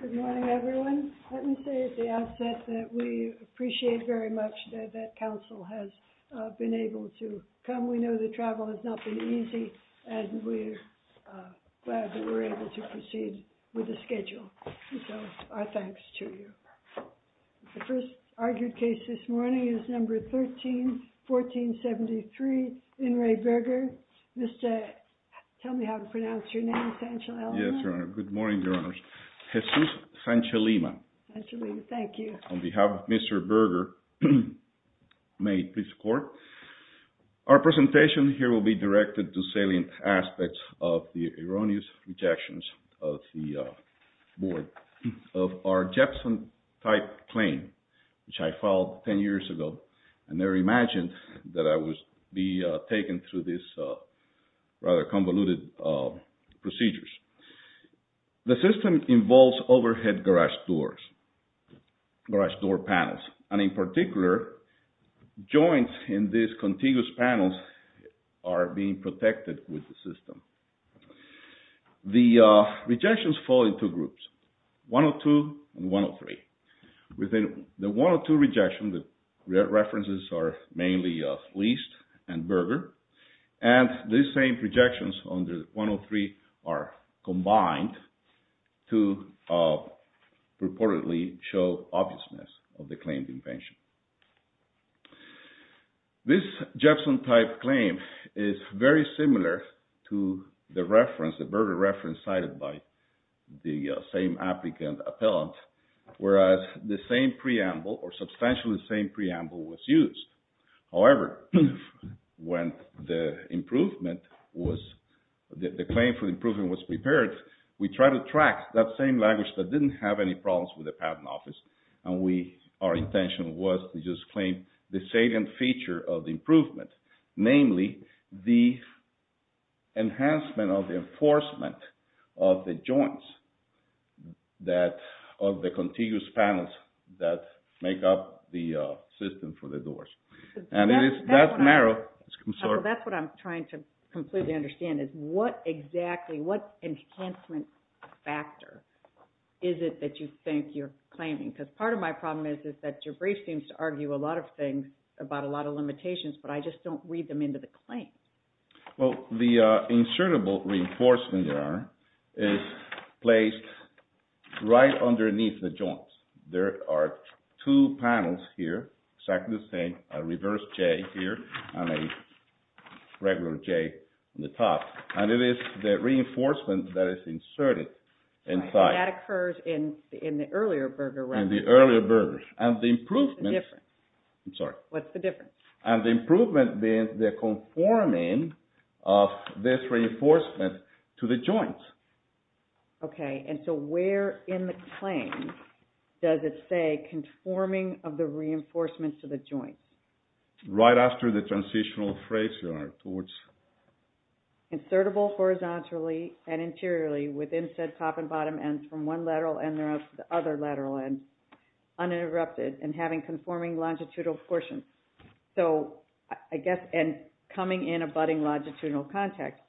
Good morning, everyone. Let me say at the outset that we appreciate very much that Council has been able to come. We know that travel has not been easy, and we're glad that we're able to proceed with the schedule. So, our thanks to you. The first argued case this morning is number 13-1473, N. Ray Berger. Mr. — tell me how to pronounce your name, Your Honor. Yes, Your Honor. Good morning, Your Honors. Jesus Sanchelema. Sanchelema, thank you. On behalf of Mr. Berger, may please report. Our presentation here will be directed to salient aspects of the erroneous rejections of the board of our Jepson-type claim, which I filed 10 years ago. I never imagined that I would be taken through this rather convoluted procedures. The system involves overhead garage doors, garage door panels, and in particular, joints in these contiguous panels are being protected with the system. The rejections fall in two groups, 102 and 103. Within the 102 rejection, the references are mainly Liest and Berger, and these same rejections on the 103 are combined to purportedly show obviousness of the claimed invention. This Jepson-type claim is very similar to the reference, the Berger reference cited by the same applicant appellant, whereas the same preamble, or substantially the same preamble, was used. However, when the improvement was, the claim for improvement was prepared, we tried to track that same language that didn't have any problems with the patent office, and we, our intention was to just claim the salient feature of the improvement, namely the enhancement of the enforcement of the joints that, of the contiguous panels that make up the system for the doors. And it is, that's what I'm trying to completely understand is what exactly, what enhancement factor is it that you think you're claiming? Because part of my problem is, is that your brief seems to argue a lot of things about a lot of limitations, but I just don't read them into the claim. Well, the insertable reinforcement there is placed right underneath the joints. There are two panels here, exactly the same, a reverse J here, and a regular J on the top. And it is the reinforcement that is inserted inside. That occurs in the earlier Berger reference. In the earlier Berger. And the improvement... What's the difference? I'm sorry. What's the difference? And the improvement being the conforming of this reinforcement to the joints. Okay, and so where in the claim does it say conforming of the reinforcements to the joints? Right after the transitional phrase you are towards... Insertable horizontally and interiorly within said top and bottom ends from one lateral end to the other lateral end, uninterrupted, and having conforming longitudinal portions. So I guess, and coming in abutting longitudinal contact,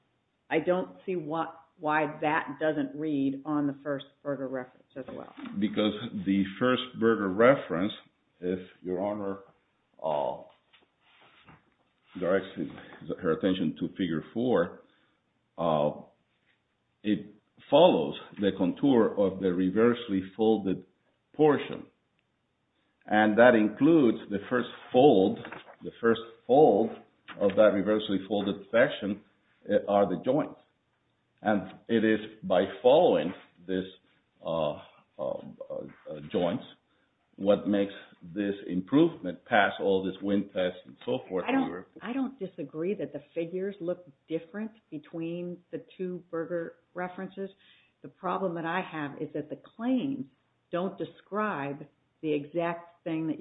I don't see what, why that doesn't read on the first Berger reference as well. Because the first Berger reference, if Your Honor directs her attention to Figure 4, it follows the contour of the reversely folded portion. And that includes the first fold, the first fold of that reversely folded section are the joints. And it is by following this joints what makes this improvement past all this wind test and so forth. I don't disagree that the figures look different between the two Berger references. The problem that I have is that the claims don't describe the exact thing that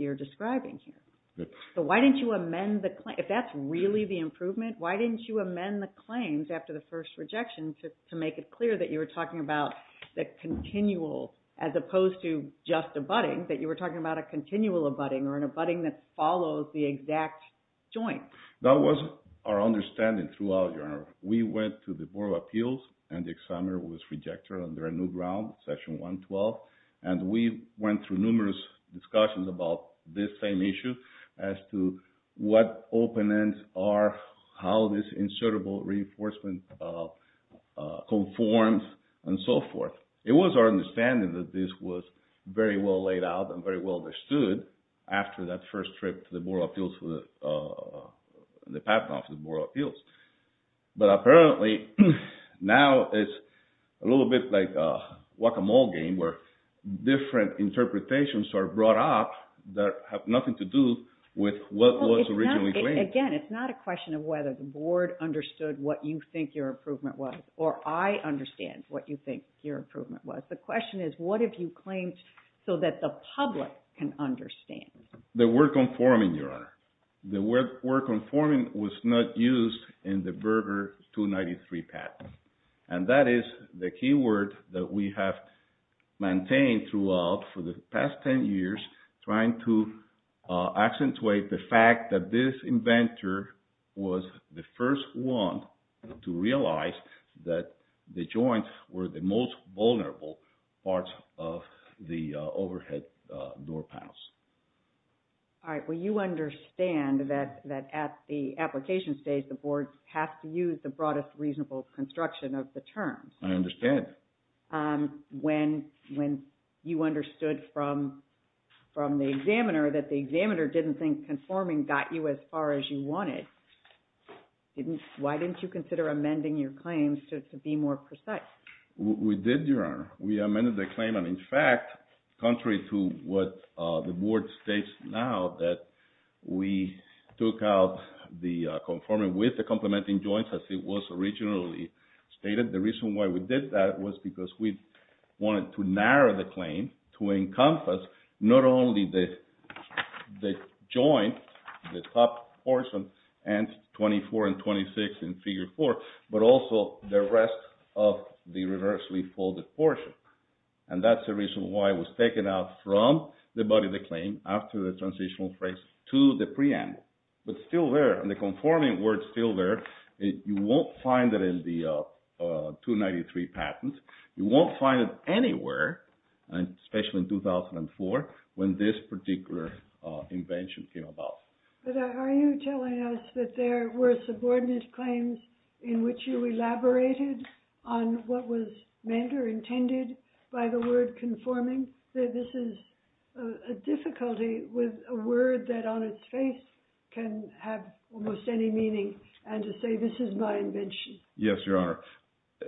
Why didn't you amend the claim? If that's really the improvement, why didn't you amend the claims after the first rejection to make it clear that you were talking about the continual as opposed to just abutting, that you were talking about a continual abutting or an abutting that follows the exact joint? That wasn't our understanding throughout, Your Honor. We went to the Board of Appeals and the examiner was rejected under a new ground, Session 112, and we went through numerous discussions about this same issue as to what open ends are, how this insertable reinforcement conforms, and so forth. It was our understanding that this was very well laid out and very well understood after that first trip to the Board of Appeals, the path of the Board of Appeals. But are brought up that have nothing to do with what was originally claimed. Again, it's not a question of whether the Board understood what you think your improvement was or I understand what you think your improvement was. The question is, what have you claimed so that the public can understand? The word conforming, Your Honor. The word conforming was not used in the Berger 293 Act. And that is the key word that we have maintained throughout for the past 10 years trying to accentuate the fact that this inventor was the first one to realize that the joints were the most vulnerable parts of the overhead door panels. All right. Well, you understand that at the application stage, the construction of the terms. I understand. When you understood from the examiner that the examiner didn't think conforming got you as far as you wanted, why didn't you consider amending your claims to be more precise? We did, Your Honor. We amended the claim. And in fact, contrary to what the Board states now that we took out the conforming with the complementing joints as it was originally stated, the reason why we did that was because we wanted to narrow the claim to encompass not only the joint, the top portion, and 24 and 26 in Figure 4, but also the rest of the reversely folded portion. And that's the reason why it was taken out from the body of the claim after the transitional phrase to the preamble. But still there, and the conforming word still there, you won't find it in the 293 patent. You won't find it anywhere, especially in 2004 when this particular invention came about. But are you telling us that there were subordinate claims in which you elaborated on what was meant or intended by the word conforming? This is a difficulty with a word that on its face can have almost any meaning, and to say this is my invention. Yes, Your Honor.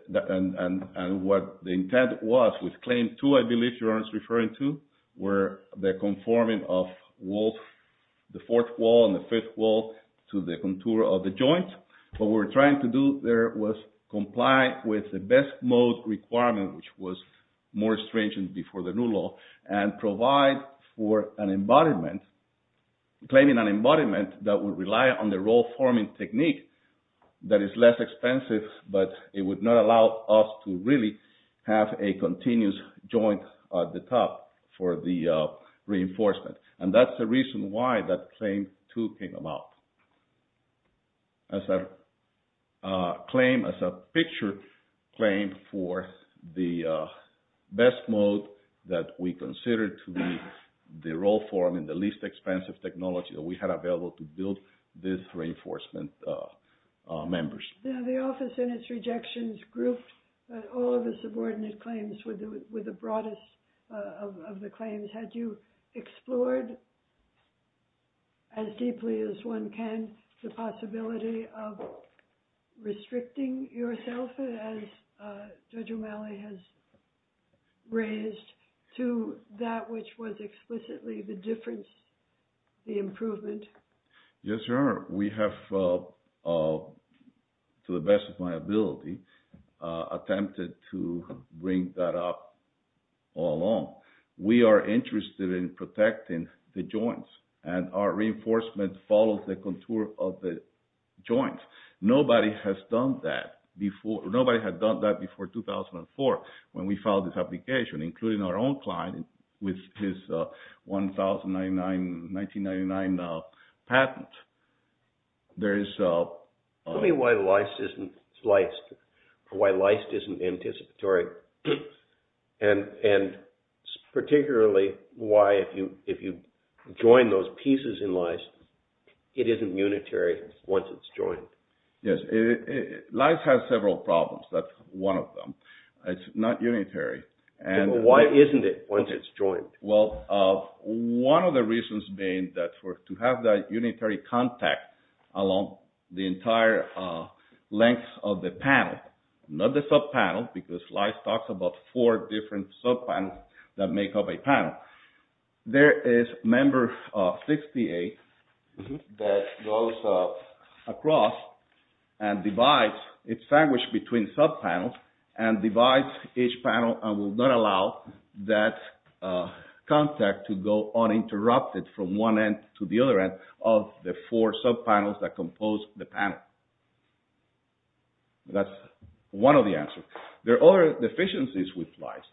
And what the intent was with Claim 2, I believe Your Honor is referring to, were the conforming of the fourth wall and the fifth wall to the contour of the joint. What we're trying to do there was comply with the best mode requirement, which was more strange than before the new law, and provide for an embodiment, claiming an embodiment that would rely on the roll-forming technique that is less expensive, but it would not allow us to really have a continuous joint at the top for the reinforcement. And that's the reason why that Claim 2 came about as a claim, as a picture claim for the best mode that we consider to be the roll forming, the least expensive technology that we had available to build this reinforcement members. Now the Office and its rejections grouped all of the subordinate claims with the broadest of the claims. Had you explored as deeply as one can the possibility of restricting yourself, as Judge O'Malley has raised, to that which was explicitly the difference, the improvement? Yes, Your Honor. We have, to the best of my ability, attempted to bring that up all along. We are interested in protecting the joints, and our reinforcement follows the contour of the joints. Nobody has done that before, nobody had done that before 2004, when we had our own client with his 1999 patent. Tell me why LIST isn't anticipatory, and particularly why if you join those pieces in LIST, it isn't unitary once it's joined. Yes, LIST has several problems, that's one of them. It's not unitary, isn't it, once it's joined? Well, one of the reasons being that for to have that unitary contact along the entire length of the panel, not the sub-panel, because LIST talks about four different sub-panels that make up a panel. There is member 68 that goes across and divides, it's sandwiched between sub-panels, and LIST will not allow that contact to go uninterrupted from one end to the other end of the four sub-panels that compose the panel. That's one of the answers. There are other deficiencies with LIST,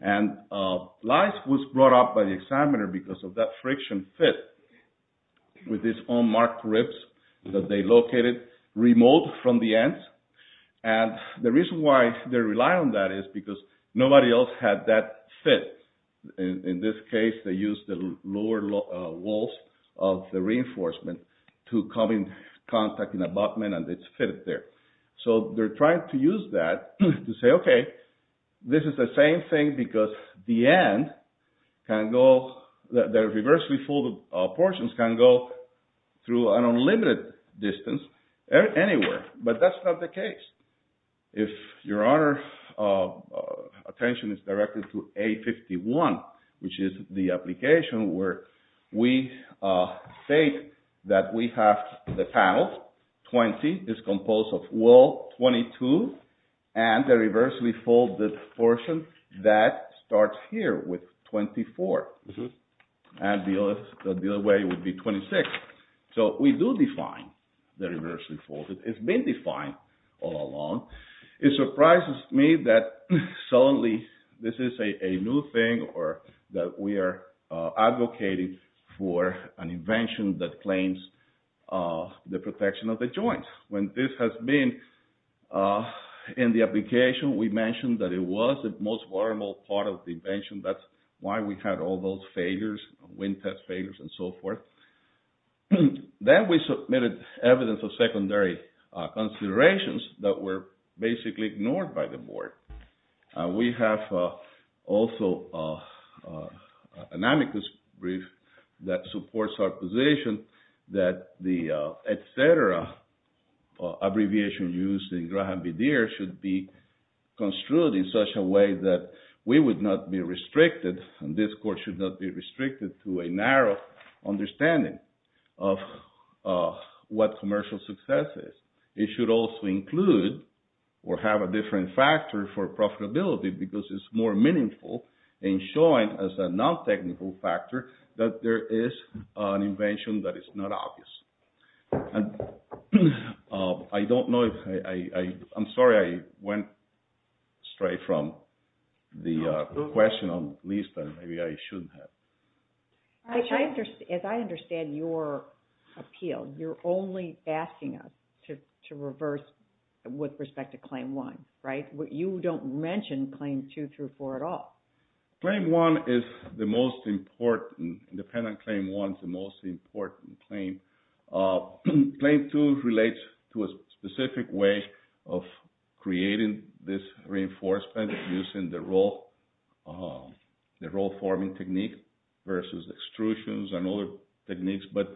and LIST was brought up by the examiner because of that friction fit with this unmarked ribs that they located remote from the ends, and the reason why they rely on that is because nobody else had that fit. In this case, they used the lower walls of the reinforcement to come in contact in the abutment and it's fitted there. So they're trying to use that to say, okay, this is the same thing because the end can go, the reversely folded portions can go through an unlimited distance anywhere, but that's not the case. If your Honor's attention is directed to A51, which is the application where we state that we have the panels, 20 is composed of wall 22, and the reversely folded portion, that starts here with 24, and the other way would be 26. So we do define the reversely folded. It's been defined all along. It surprises me that suddenly this is a new thing or that we are advocating for an invention that claims the protection of the joints. When this has been in the application, we mentioned that it was the most vulnerable part of the invention. That's why we had all those failures, wind test failures, and so forth. Then we submitted evidence of secondary considerations that were basically ignored by the board. We have also an amicus brief that supports our position that the etc. abbreviation used in Graham v. Deere should be construed in such a way that we would not be restricted, and this Court should not be restricted to a narrow understanding of what commercial success is. It should also include or have a different factor for profitability because it's more meaningful in showing as a non-technical factor that there is an invention that is not obvious. I don't know if I... I'm sorry I went straight from the question on the list that maybe I shouldn't have. As I understand your appeal, you're only asking us to reverse with respect to Claim 1, right? You don't mention Claim 2 through 4 at all. Claim 1 is the most important. Independent Claim 1 is the important claim. Claim 2 relates to a specific way of creating this reinforcement using the roll forming technique versus extrusions and other techniques, but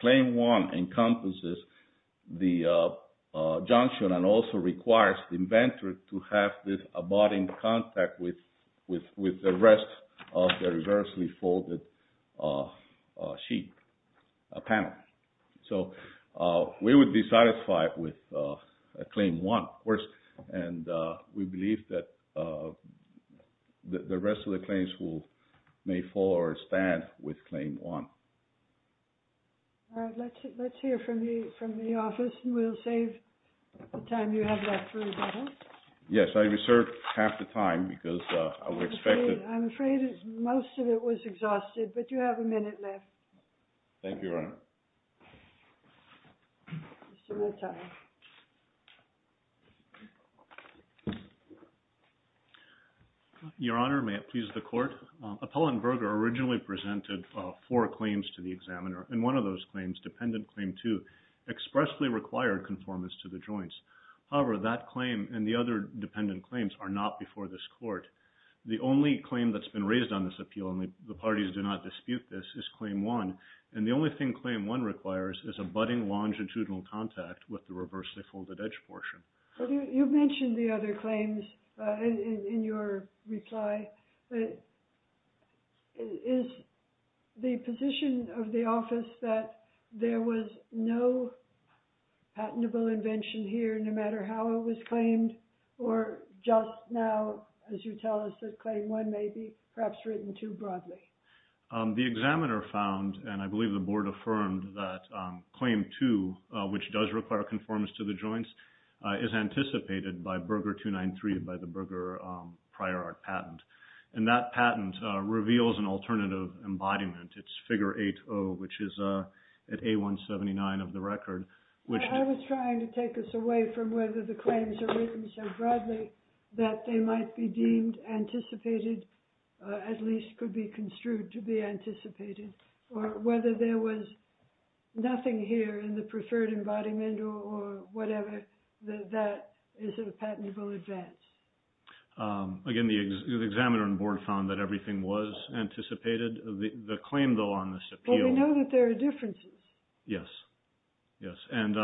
Claim 1 encompasses the junction and also requires the inventor to have this abiding contact with the rest of the panel. So we would be satisfied with Claim 1, of course, and we believe that the rest of the claims will may fall or stand with Claim 1. Let's hear from the office, and we'll save the time you have left. Yes, I reserved half the time because I would expect... I'm afraid most of it was exhausted, but you have a lot of time. Thank you, Your Honor. Your Honor, may it please the Court. Appellant Berger originally presented four claims to the examiner, and one of those claims, Dependent Claim 2, expressly required conformance to the joints. However, that claim and the other dependent claims are not before this Court. The only claim that's been raised on this appeal, and the parties do not dispute this, is Claim 1, and the only thing Claim 1 requires is a budding longitudinal contact with the reversely folded edge portion. You mentioned the other claims in your reply, but is the position of the office that there was no patentable invention here, no matter how it was claimed, or just now, as you tell us, that Claim 1 may be perhaps written too broadly? The examiner found, and I believe the Board affirmed, that Claim 2, which does require conformance to the joints, is anticipated by Berger 293, by the Berger prior art patent, and that patent reveals an alternative embodiment. It's Figure 8-0, which is at A179 of the record, which... I was trying to take us away from whether the claims are written so broadly that they might be deemed anticipated, at least could be construed to be anticipated, or whether there was nothing here in the preferred embodiment or whatever, that is a patentable advance. Again, the examiner and Board found that everything was anticipated. The claim, though, on this appeal... Well, we know that there are differences. Yes, yes, and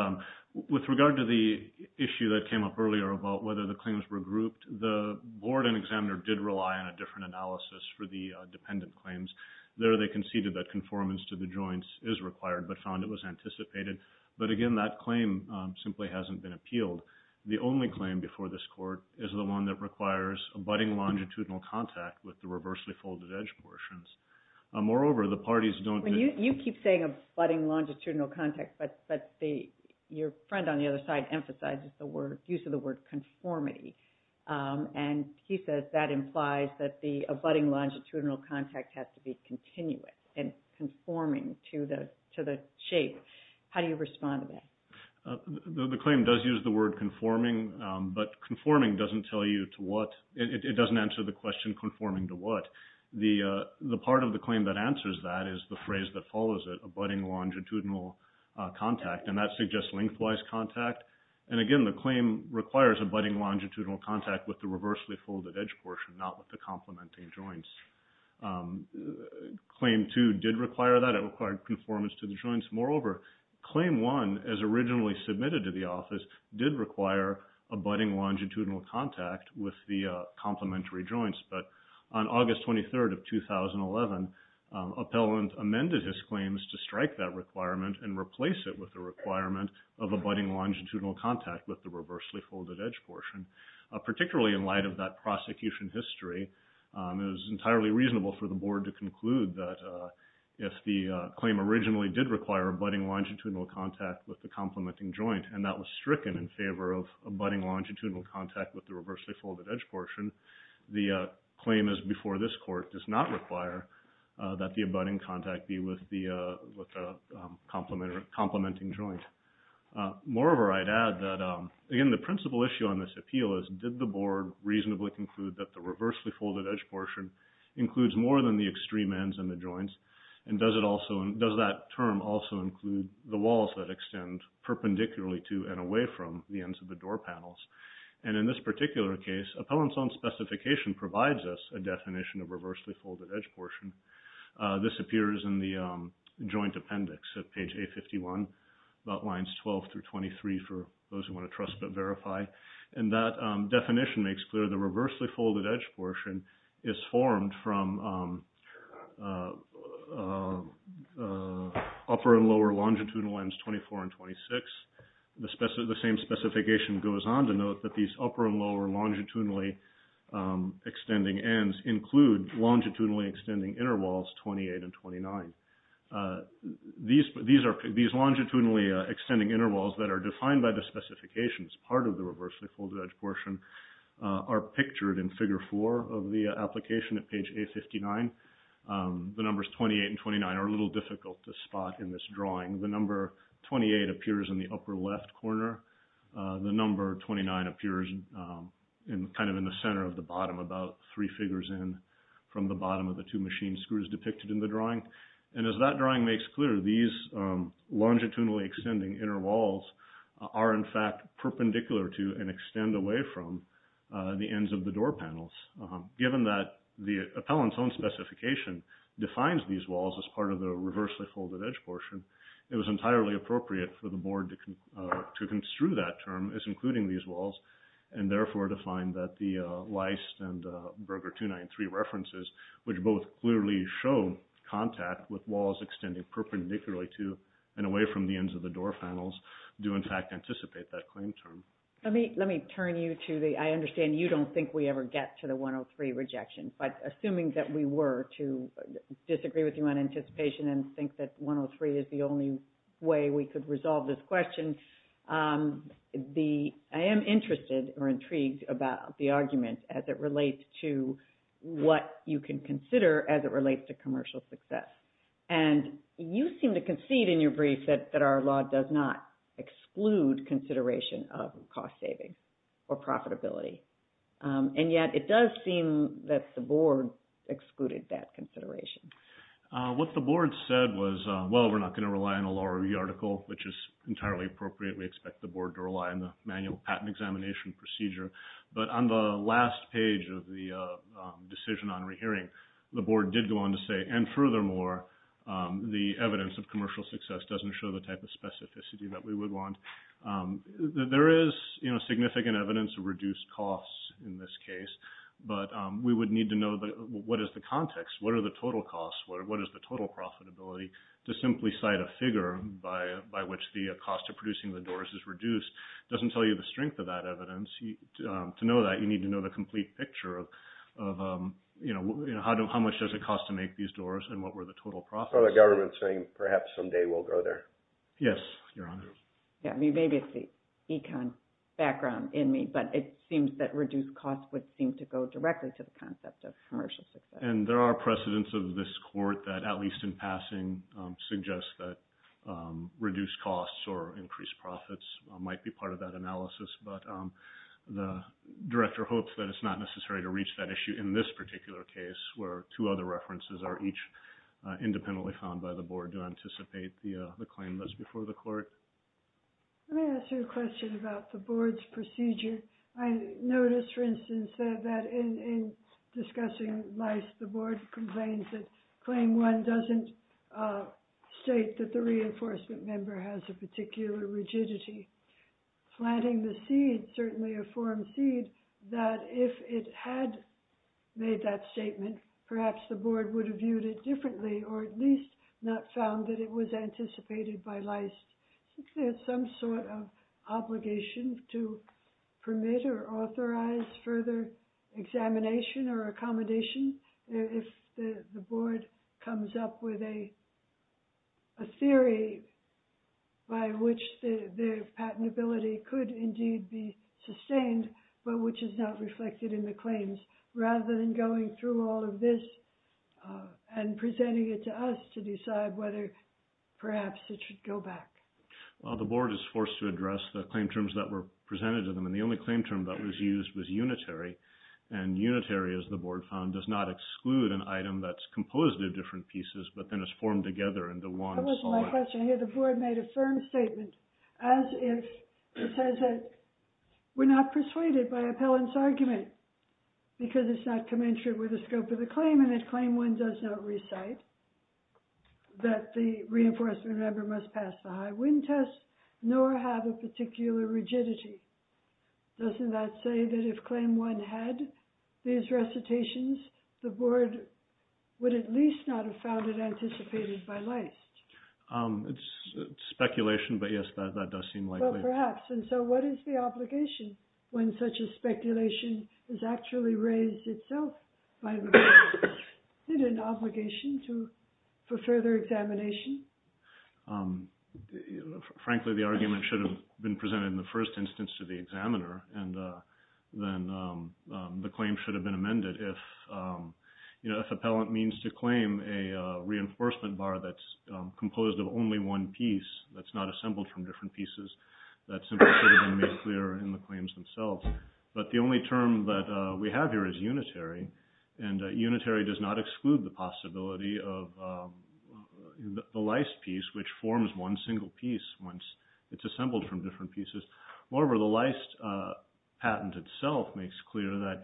with regard to the issue that came up earlier about whether the claims were grouped, the Board and examiner did rely on a different analysis for the dependent claims. There, they conceded that conformance to the joints is required, but found it was anticipated. But again, that claim simply hasn't been appealed. The only claim before this Court is the one that requires a budding longitudinal contact with the reversely folded-edge portions. Moreover, the parties don't... You keep saying a budding longitudinal contact, but your friend on the other side emphasizes the use of the word conformity, and he says that implies that the budding longitudinal contact has to be continuous and conforming to the shape. How do you respond to that? The claim does use the word conforming, but conforming doesn't tell you to what... It doesn't answer the question conforming to what. The part of the claim that answers that is the phrase that follows it, a budding longitudinal contact, and that suggests lengthwise contact. And again, the claim requires a budding longitudinal contact with the reversely folded-edge portion, not with the complementing joints. Claim 2 did require that. It required conformance to the joints. Moreover, Claim 1, as originally submitted to the office, did require a budding longitudinal contact with the complementary joints. But on August 23rd of 2011, Appellant amended his claims to strike that requirement and replace it with the requirement of a budding longitudinal contact with the reversely folded-edge portion. Particularly in light of that prosecution history, it was entirely reasonable for the Board to conclude that if the claim originally did require a budding longitudinal contact with the complementing joint, and that was stricken in favor of a budding longitudinal contact with the reversely folded-edge portion, the claim as before this Court does not require that the budding contact be with the complementing joint. Moreover, I'd add that, again, the principal issue on this appeal is, did the Board reasonably conclude that the reversely folded-edge portion includes more than the extreme ends and the joints, and does that term also include the walls that extend perpendicularly to and away from the ends of the door panels? And in this particular case, Appellant's own specification provides us a definition of reversely folded-edge portion. This appears in the joint appendix at page 851, about lines 12 through 23 for those who want to trust but verify, and that definition makes clear the reversely folded-edge portion is formed from upper and lower longitudinal ends 24 and 26. The same specification goes on to note that these upper and lower longitudinal extending interwalls 28 and 29. These longitudinally extending interwalls that are defined by the specifications, part of the reversely folded-edge portion, are pictured in figure four of the application at page 859. The numbers 28 and 29 are a little difficult to spot in this drawing. The number 28 appears in the upper left corner, the number 29 appears in kind of in the center of the bottom, about three figures in from the two machine screws depicted in the drawing. And as that drawing makes clear, these longitudinally extending interwalls are in fact perpendicular to and extend away from the ends of the door panels. Given that the Appellant's own specification defines these walls as part of the reversely folded-edge portion, it was entirely appropriate for the board to construe that term as including these walls, and therefore to find that the Leist and Berger 293 references, which both clearly show contact with walls extending perpendicularly to and away from the ends of the door panels, do in fact anticipate that claim term. Let me turn you to the, I understand you don't think we ever get to the 103 rejection, but assuming that we were to disagree with you on anticipation and think that 103 is the only way we could resolve this question, I am interested or intrigued about the argument as it relates to what you can consider as it relates to commercial success. And you seem to concede in your brief that our law does not exclude consideration of cost-saving or profitability. And yet it does seem that the board excluded that consideration. What the board said was, well we're not going to rely on a law review article, which is entirely appropriate. We expect the board to rely on the manual patent examination procedure. But on the last page of the decision on rehearing, the board did go on to say, and furthermore, the evidence of commercial success doesn't show the type of specificity that we would want. There is, you know, significant evidence of reduced costs in this case, but we would need to know what is the context, what are the total costs, what is the total profitability, to simply cite a figure by which the cost of producing the doors is reduced doesn't tell you the strength of that evidence. To know that, you need to know the complete picture of, you know, how much does it cost to make these doors and what were the total profits. So the government's saying perhaps someday we'll go there. Yes, Your Honor. Yeah, maybe it's the econ background in me, but it seems that reduced costs would seem to go directly to the concept of commercial success. And there are precedents of this court that, at least in passing, suggest that reduced costs or increased profits might be part of that analysis, but the director hopes that it's not necessary to reach that issue in this particular case, where two other references are each independently found by the board to anticipate the claim that's before the court. Let me ask you a question about the board's procedure. I noticed, for instance, that in discussing lice, the board complains that claim one doesn't state that the reinforcement member has a particular rigidity. Planting the seed, certainly a forum seed, that if it had made that statement, perhaps the board would have viewed it differently or at least not found that it was anticipated by lice. There's some sort of obligation to permit or authorize further examination or by which the patentability could indeed be sustained, but which is not reflected in the claims. Rather than going through all of this and presenting it to us to decide whether perhaps it should go back. Well, the board is forced to address the claim terms that were presented to them, and the only claim term that was used was unitary. And unitary, as the board found, does not exclude an item that's composed of different pieces, but then it's formed together into one. That wasn't my question. I hear the board made a firm statement as if it says that we're not persuaded by appellant's argument because it's not commensurate with the scope of the claim and that claim one does not recite that the reinforcement member must pass the high wind test, nor have a particular rigidity. Doesn't that say that if claim one had these recitations, the board would at least not have found it speculation? But yes, that does seem likely. Perhaps. And so what is the obligation when such a speculation is actually raised itself by the board? Is it an obligation for further examination? Frankly, the argument should have been presented in the first instance to the examiner, and then the claim should have been amended if, you know, if appellant means to claim a reinforcement bar that's composed of only one piece, that's not assembled from different pieces, that simply should have been made clear in the claims themselves. But the only term that we have here is unitary, and unitary does not exclude the possibility of the leist piece, which forms one single piece once it's assembled from different pieces. Moreover, the leist patent itself makes clear that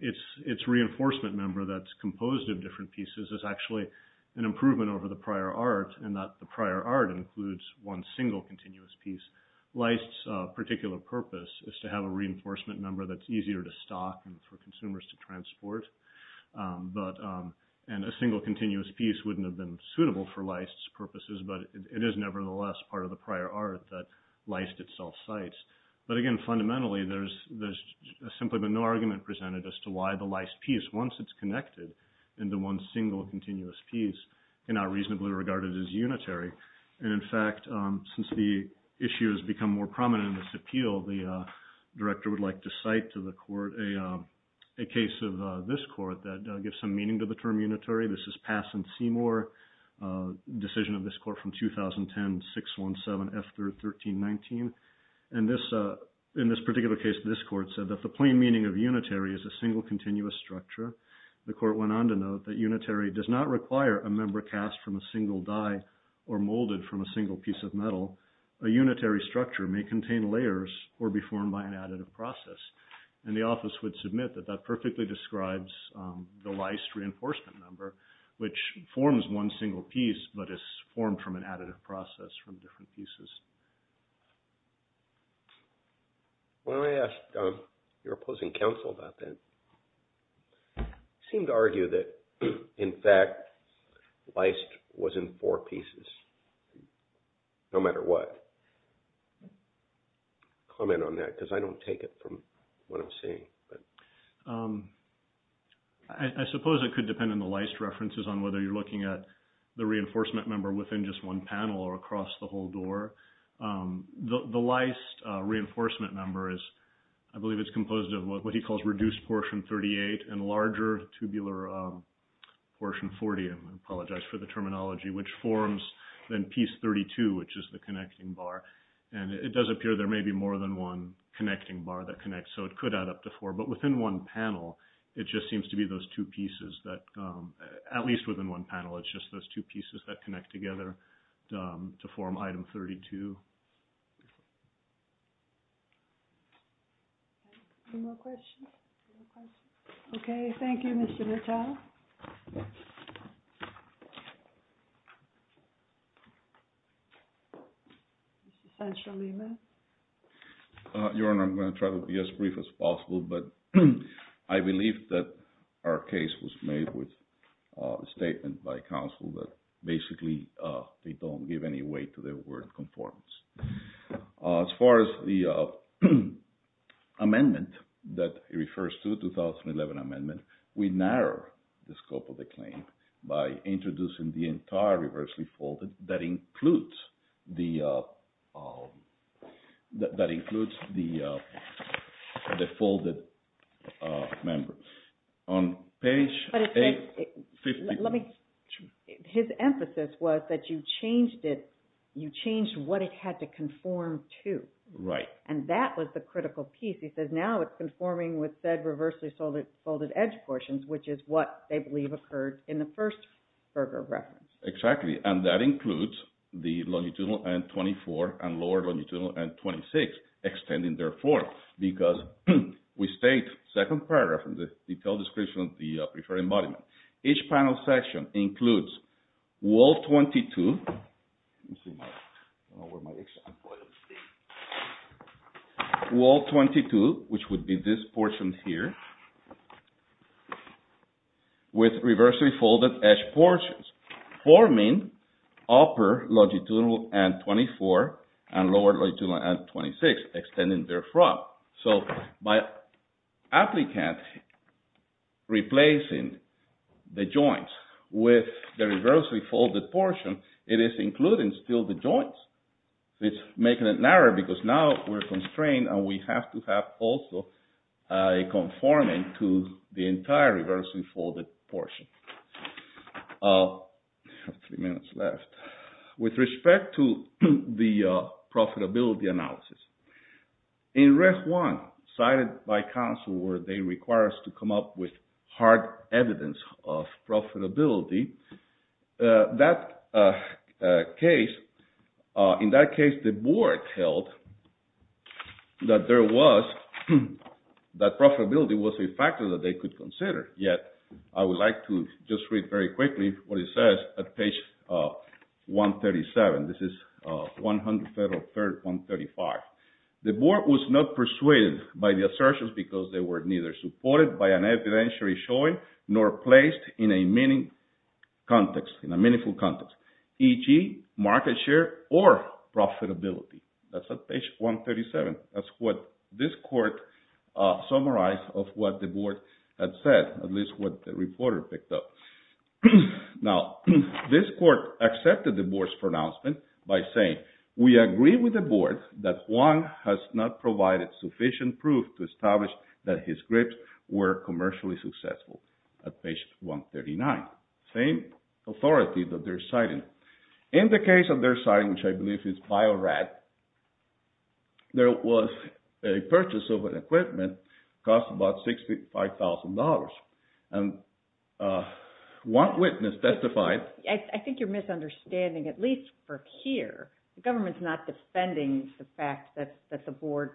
its reinforcement member that's composed of different pieces is actually an unitary piece, and the prior art includes one single continuous piece. Leist's particular purpose is to have a reinforcement member that's easier to stock and for consumers to transport, and a single continuous piece wouldn't have been suitable for leist's purposes, but it is nevertheless part of the prior art that leist itself cites. But again, fundamentally, there's simply been no argument presented as to why the leist piece, once it's connected into one single continuous piece, and not a single continuous piece. And in fact, since the issue has become more prominent in this appeal, the director would like to cite to the court a case of this court that gives some meaning to the term unitary. This is Pass and Seymour, a decision of this court from 2010, 617 F.13.19, and this, in this particular case, this court said that the plain meaning of unitary is a single continuous structure. The court went on to note that unitary does not require a member cast from a single die or molded from a single piece of metal. A unitary structure may contain layers or be formed by an additive process. And the office would submit that that perfectly describes the leist reinforcement member, which forms one single piece, but is formed from an additive process from different pieces. When I asked your opposing counsel about that, it seemed to argue that, in fact, leist was in four pieces, no matter what. Comment on that, because I don't take it from what I'm seeing, but. I suppose it could depend on the leist references on whether you're looking at the reinforcement member within just one panel or across the whole door. The leist reinforcement number is, I believe it's composed of what he calls reduced portion 38 and larger tubular portion 40. I apologize for the terminology, which forms then piece 32, which is the connecting bar. And it does appear there may be more than one connecting bar that connects, so it could add up to four. But within one panel, it just seems to be those two pieces that, at least within one panel, it's just those two pieces that connect together to form item 32. Any more questions? Okay, thank you, Mr. Vitale. Mr. Sancho-Lemus. Your Honor, I'm going to try to be as brief as possible, but I believe that our case was made with a statement by counsel that basically they don't give any weight to their word conformance. As far as the amendment that he refers to, the 2011 amendment, we narrow the scope of the claim by introducing the entire reversely folded that includes the folded member. But his emphasis was that you changed it, you changed what it had to conform to. Right. And that was the critical piece. He says now it's conforming with said reversely folded edge portions, which is what they believe occurred in the first Berger reference. Exactly, and that includes the longitudinal N-24 and lower longitudinal N-26 extending their form, because we state second paragraph in the detailed description of the preferred embodiment. Each panel section includes wall 22, let me see where my example is, wall 22, which would be this portion here, with reversely folded edge portions. Forming upper longitudinal N-24 and lower longitudinal N-26 extending their front. So by applicant replacing the joints with the reversely folded portion, it is including still the joints. It's making it narrow because now we're constrained and we have to have also conforming to the entire reversely folded portion. I have three minutes left. With respect to the profitability analysis, in Ref. 1, cited by counsel where they require us to come up with hard evidence of profitability, that case, in that case the board held that there was, that profitability was a factor that they could consider. Yet, I would like to just read very quickly what it says at page 137. This is 100 Federal Third 135. The board was not persuaded by the assertions because they were neither supported by an evidentiary showing nor placed in a meaningful context, e.g. market share or profitability. That's at page 137. That's what this court summarized of what the board had said, at least what the reporter picked up. Now, this court accepted the board's pronouncement by saying, we agree with the board that Juan has not provided sufficient proof to establish that his grips were commercially successful. At page 139, same authority that they're citing. In the case that they're citing, which I believe is Bio-Rad, there was a purchase of an equipment that cost about $65,000, and one witness testified... I think you're misunderstanding, at least for here. The government's not defending the fact that the board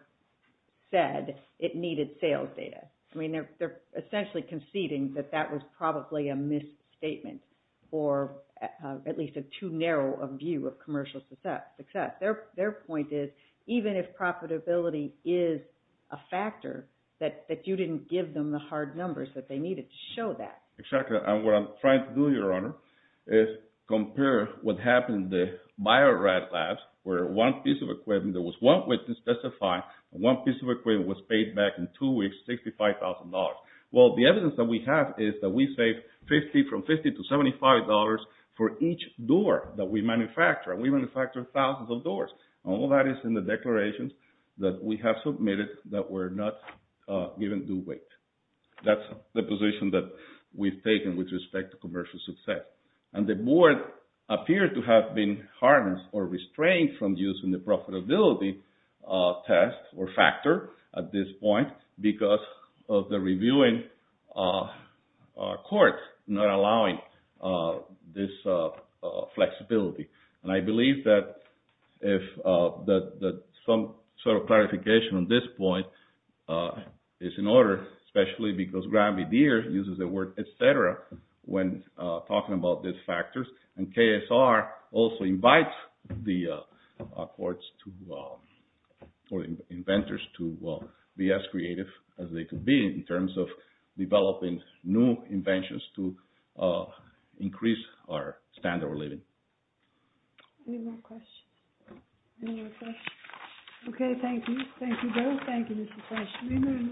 said it needed sales data. I mean, they're essentially conceding that that was probably a misstatement or at least a too narrow a view of commercial success. Their point is, even if profitability is a factor, that you didn't give them the hard numbers that they needed to show that. Exactly, and what I'm trying to do, Your Honor, is compare what happened in the Bio-Rad labs, where one piece of equipment, there was one witness testifying, and one piece of equipment was paid back in two weeks $65,000. Well, the evidence that we have is that we saved $50 from $50 to $75 for each door that we manufactured. We manufactured thousands of doors. All that is in the declarations that we have submitted that were not given due weight. That's the position that we've taken with respect to commercial success. And the board appears to have been harnessed or restrained from using the profitability test or factor at this point because of the reviewing courts not allowing this flexibility. And I believe that some sort of clarification on this point is in order, especially because Gramby Deer uses the word et cetera when talking about these factors. And KSR also invites the inventors to be as creative as they can be in terms of developing new inventions to increase our standard of living. Any more questions? Thank you, Bill. Thank you, Mr. President.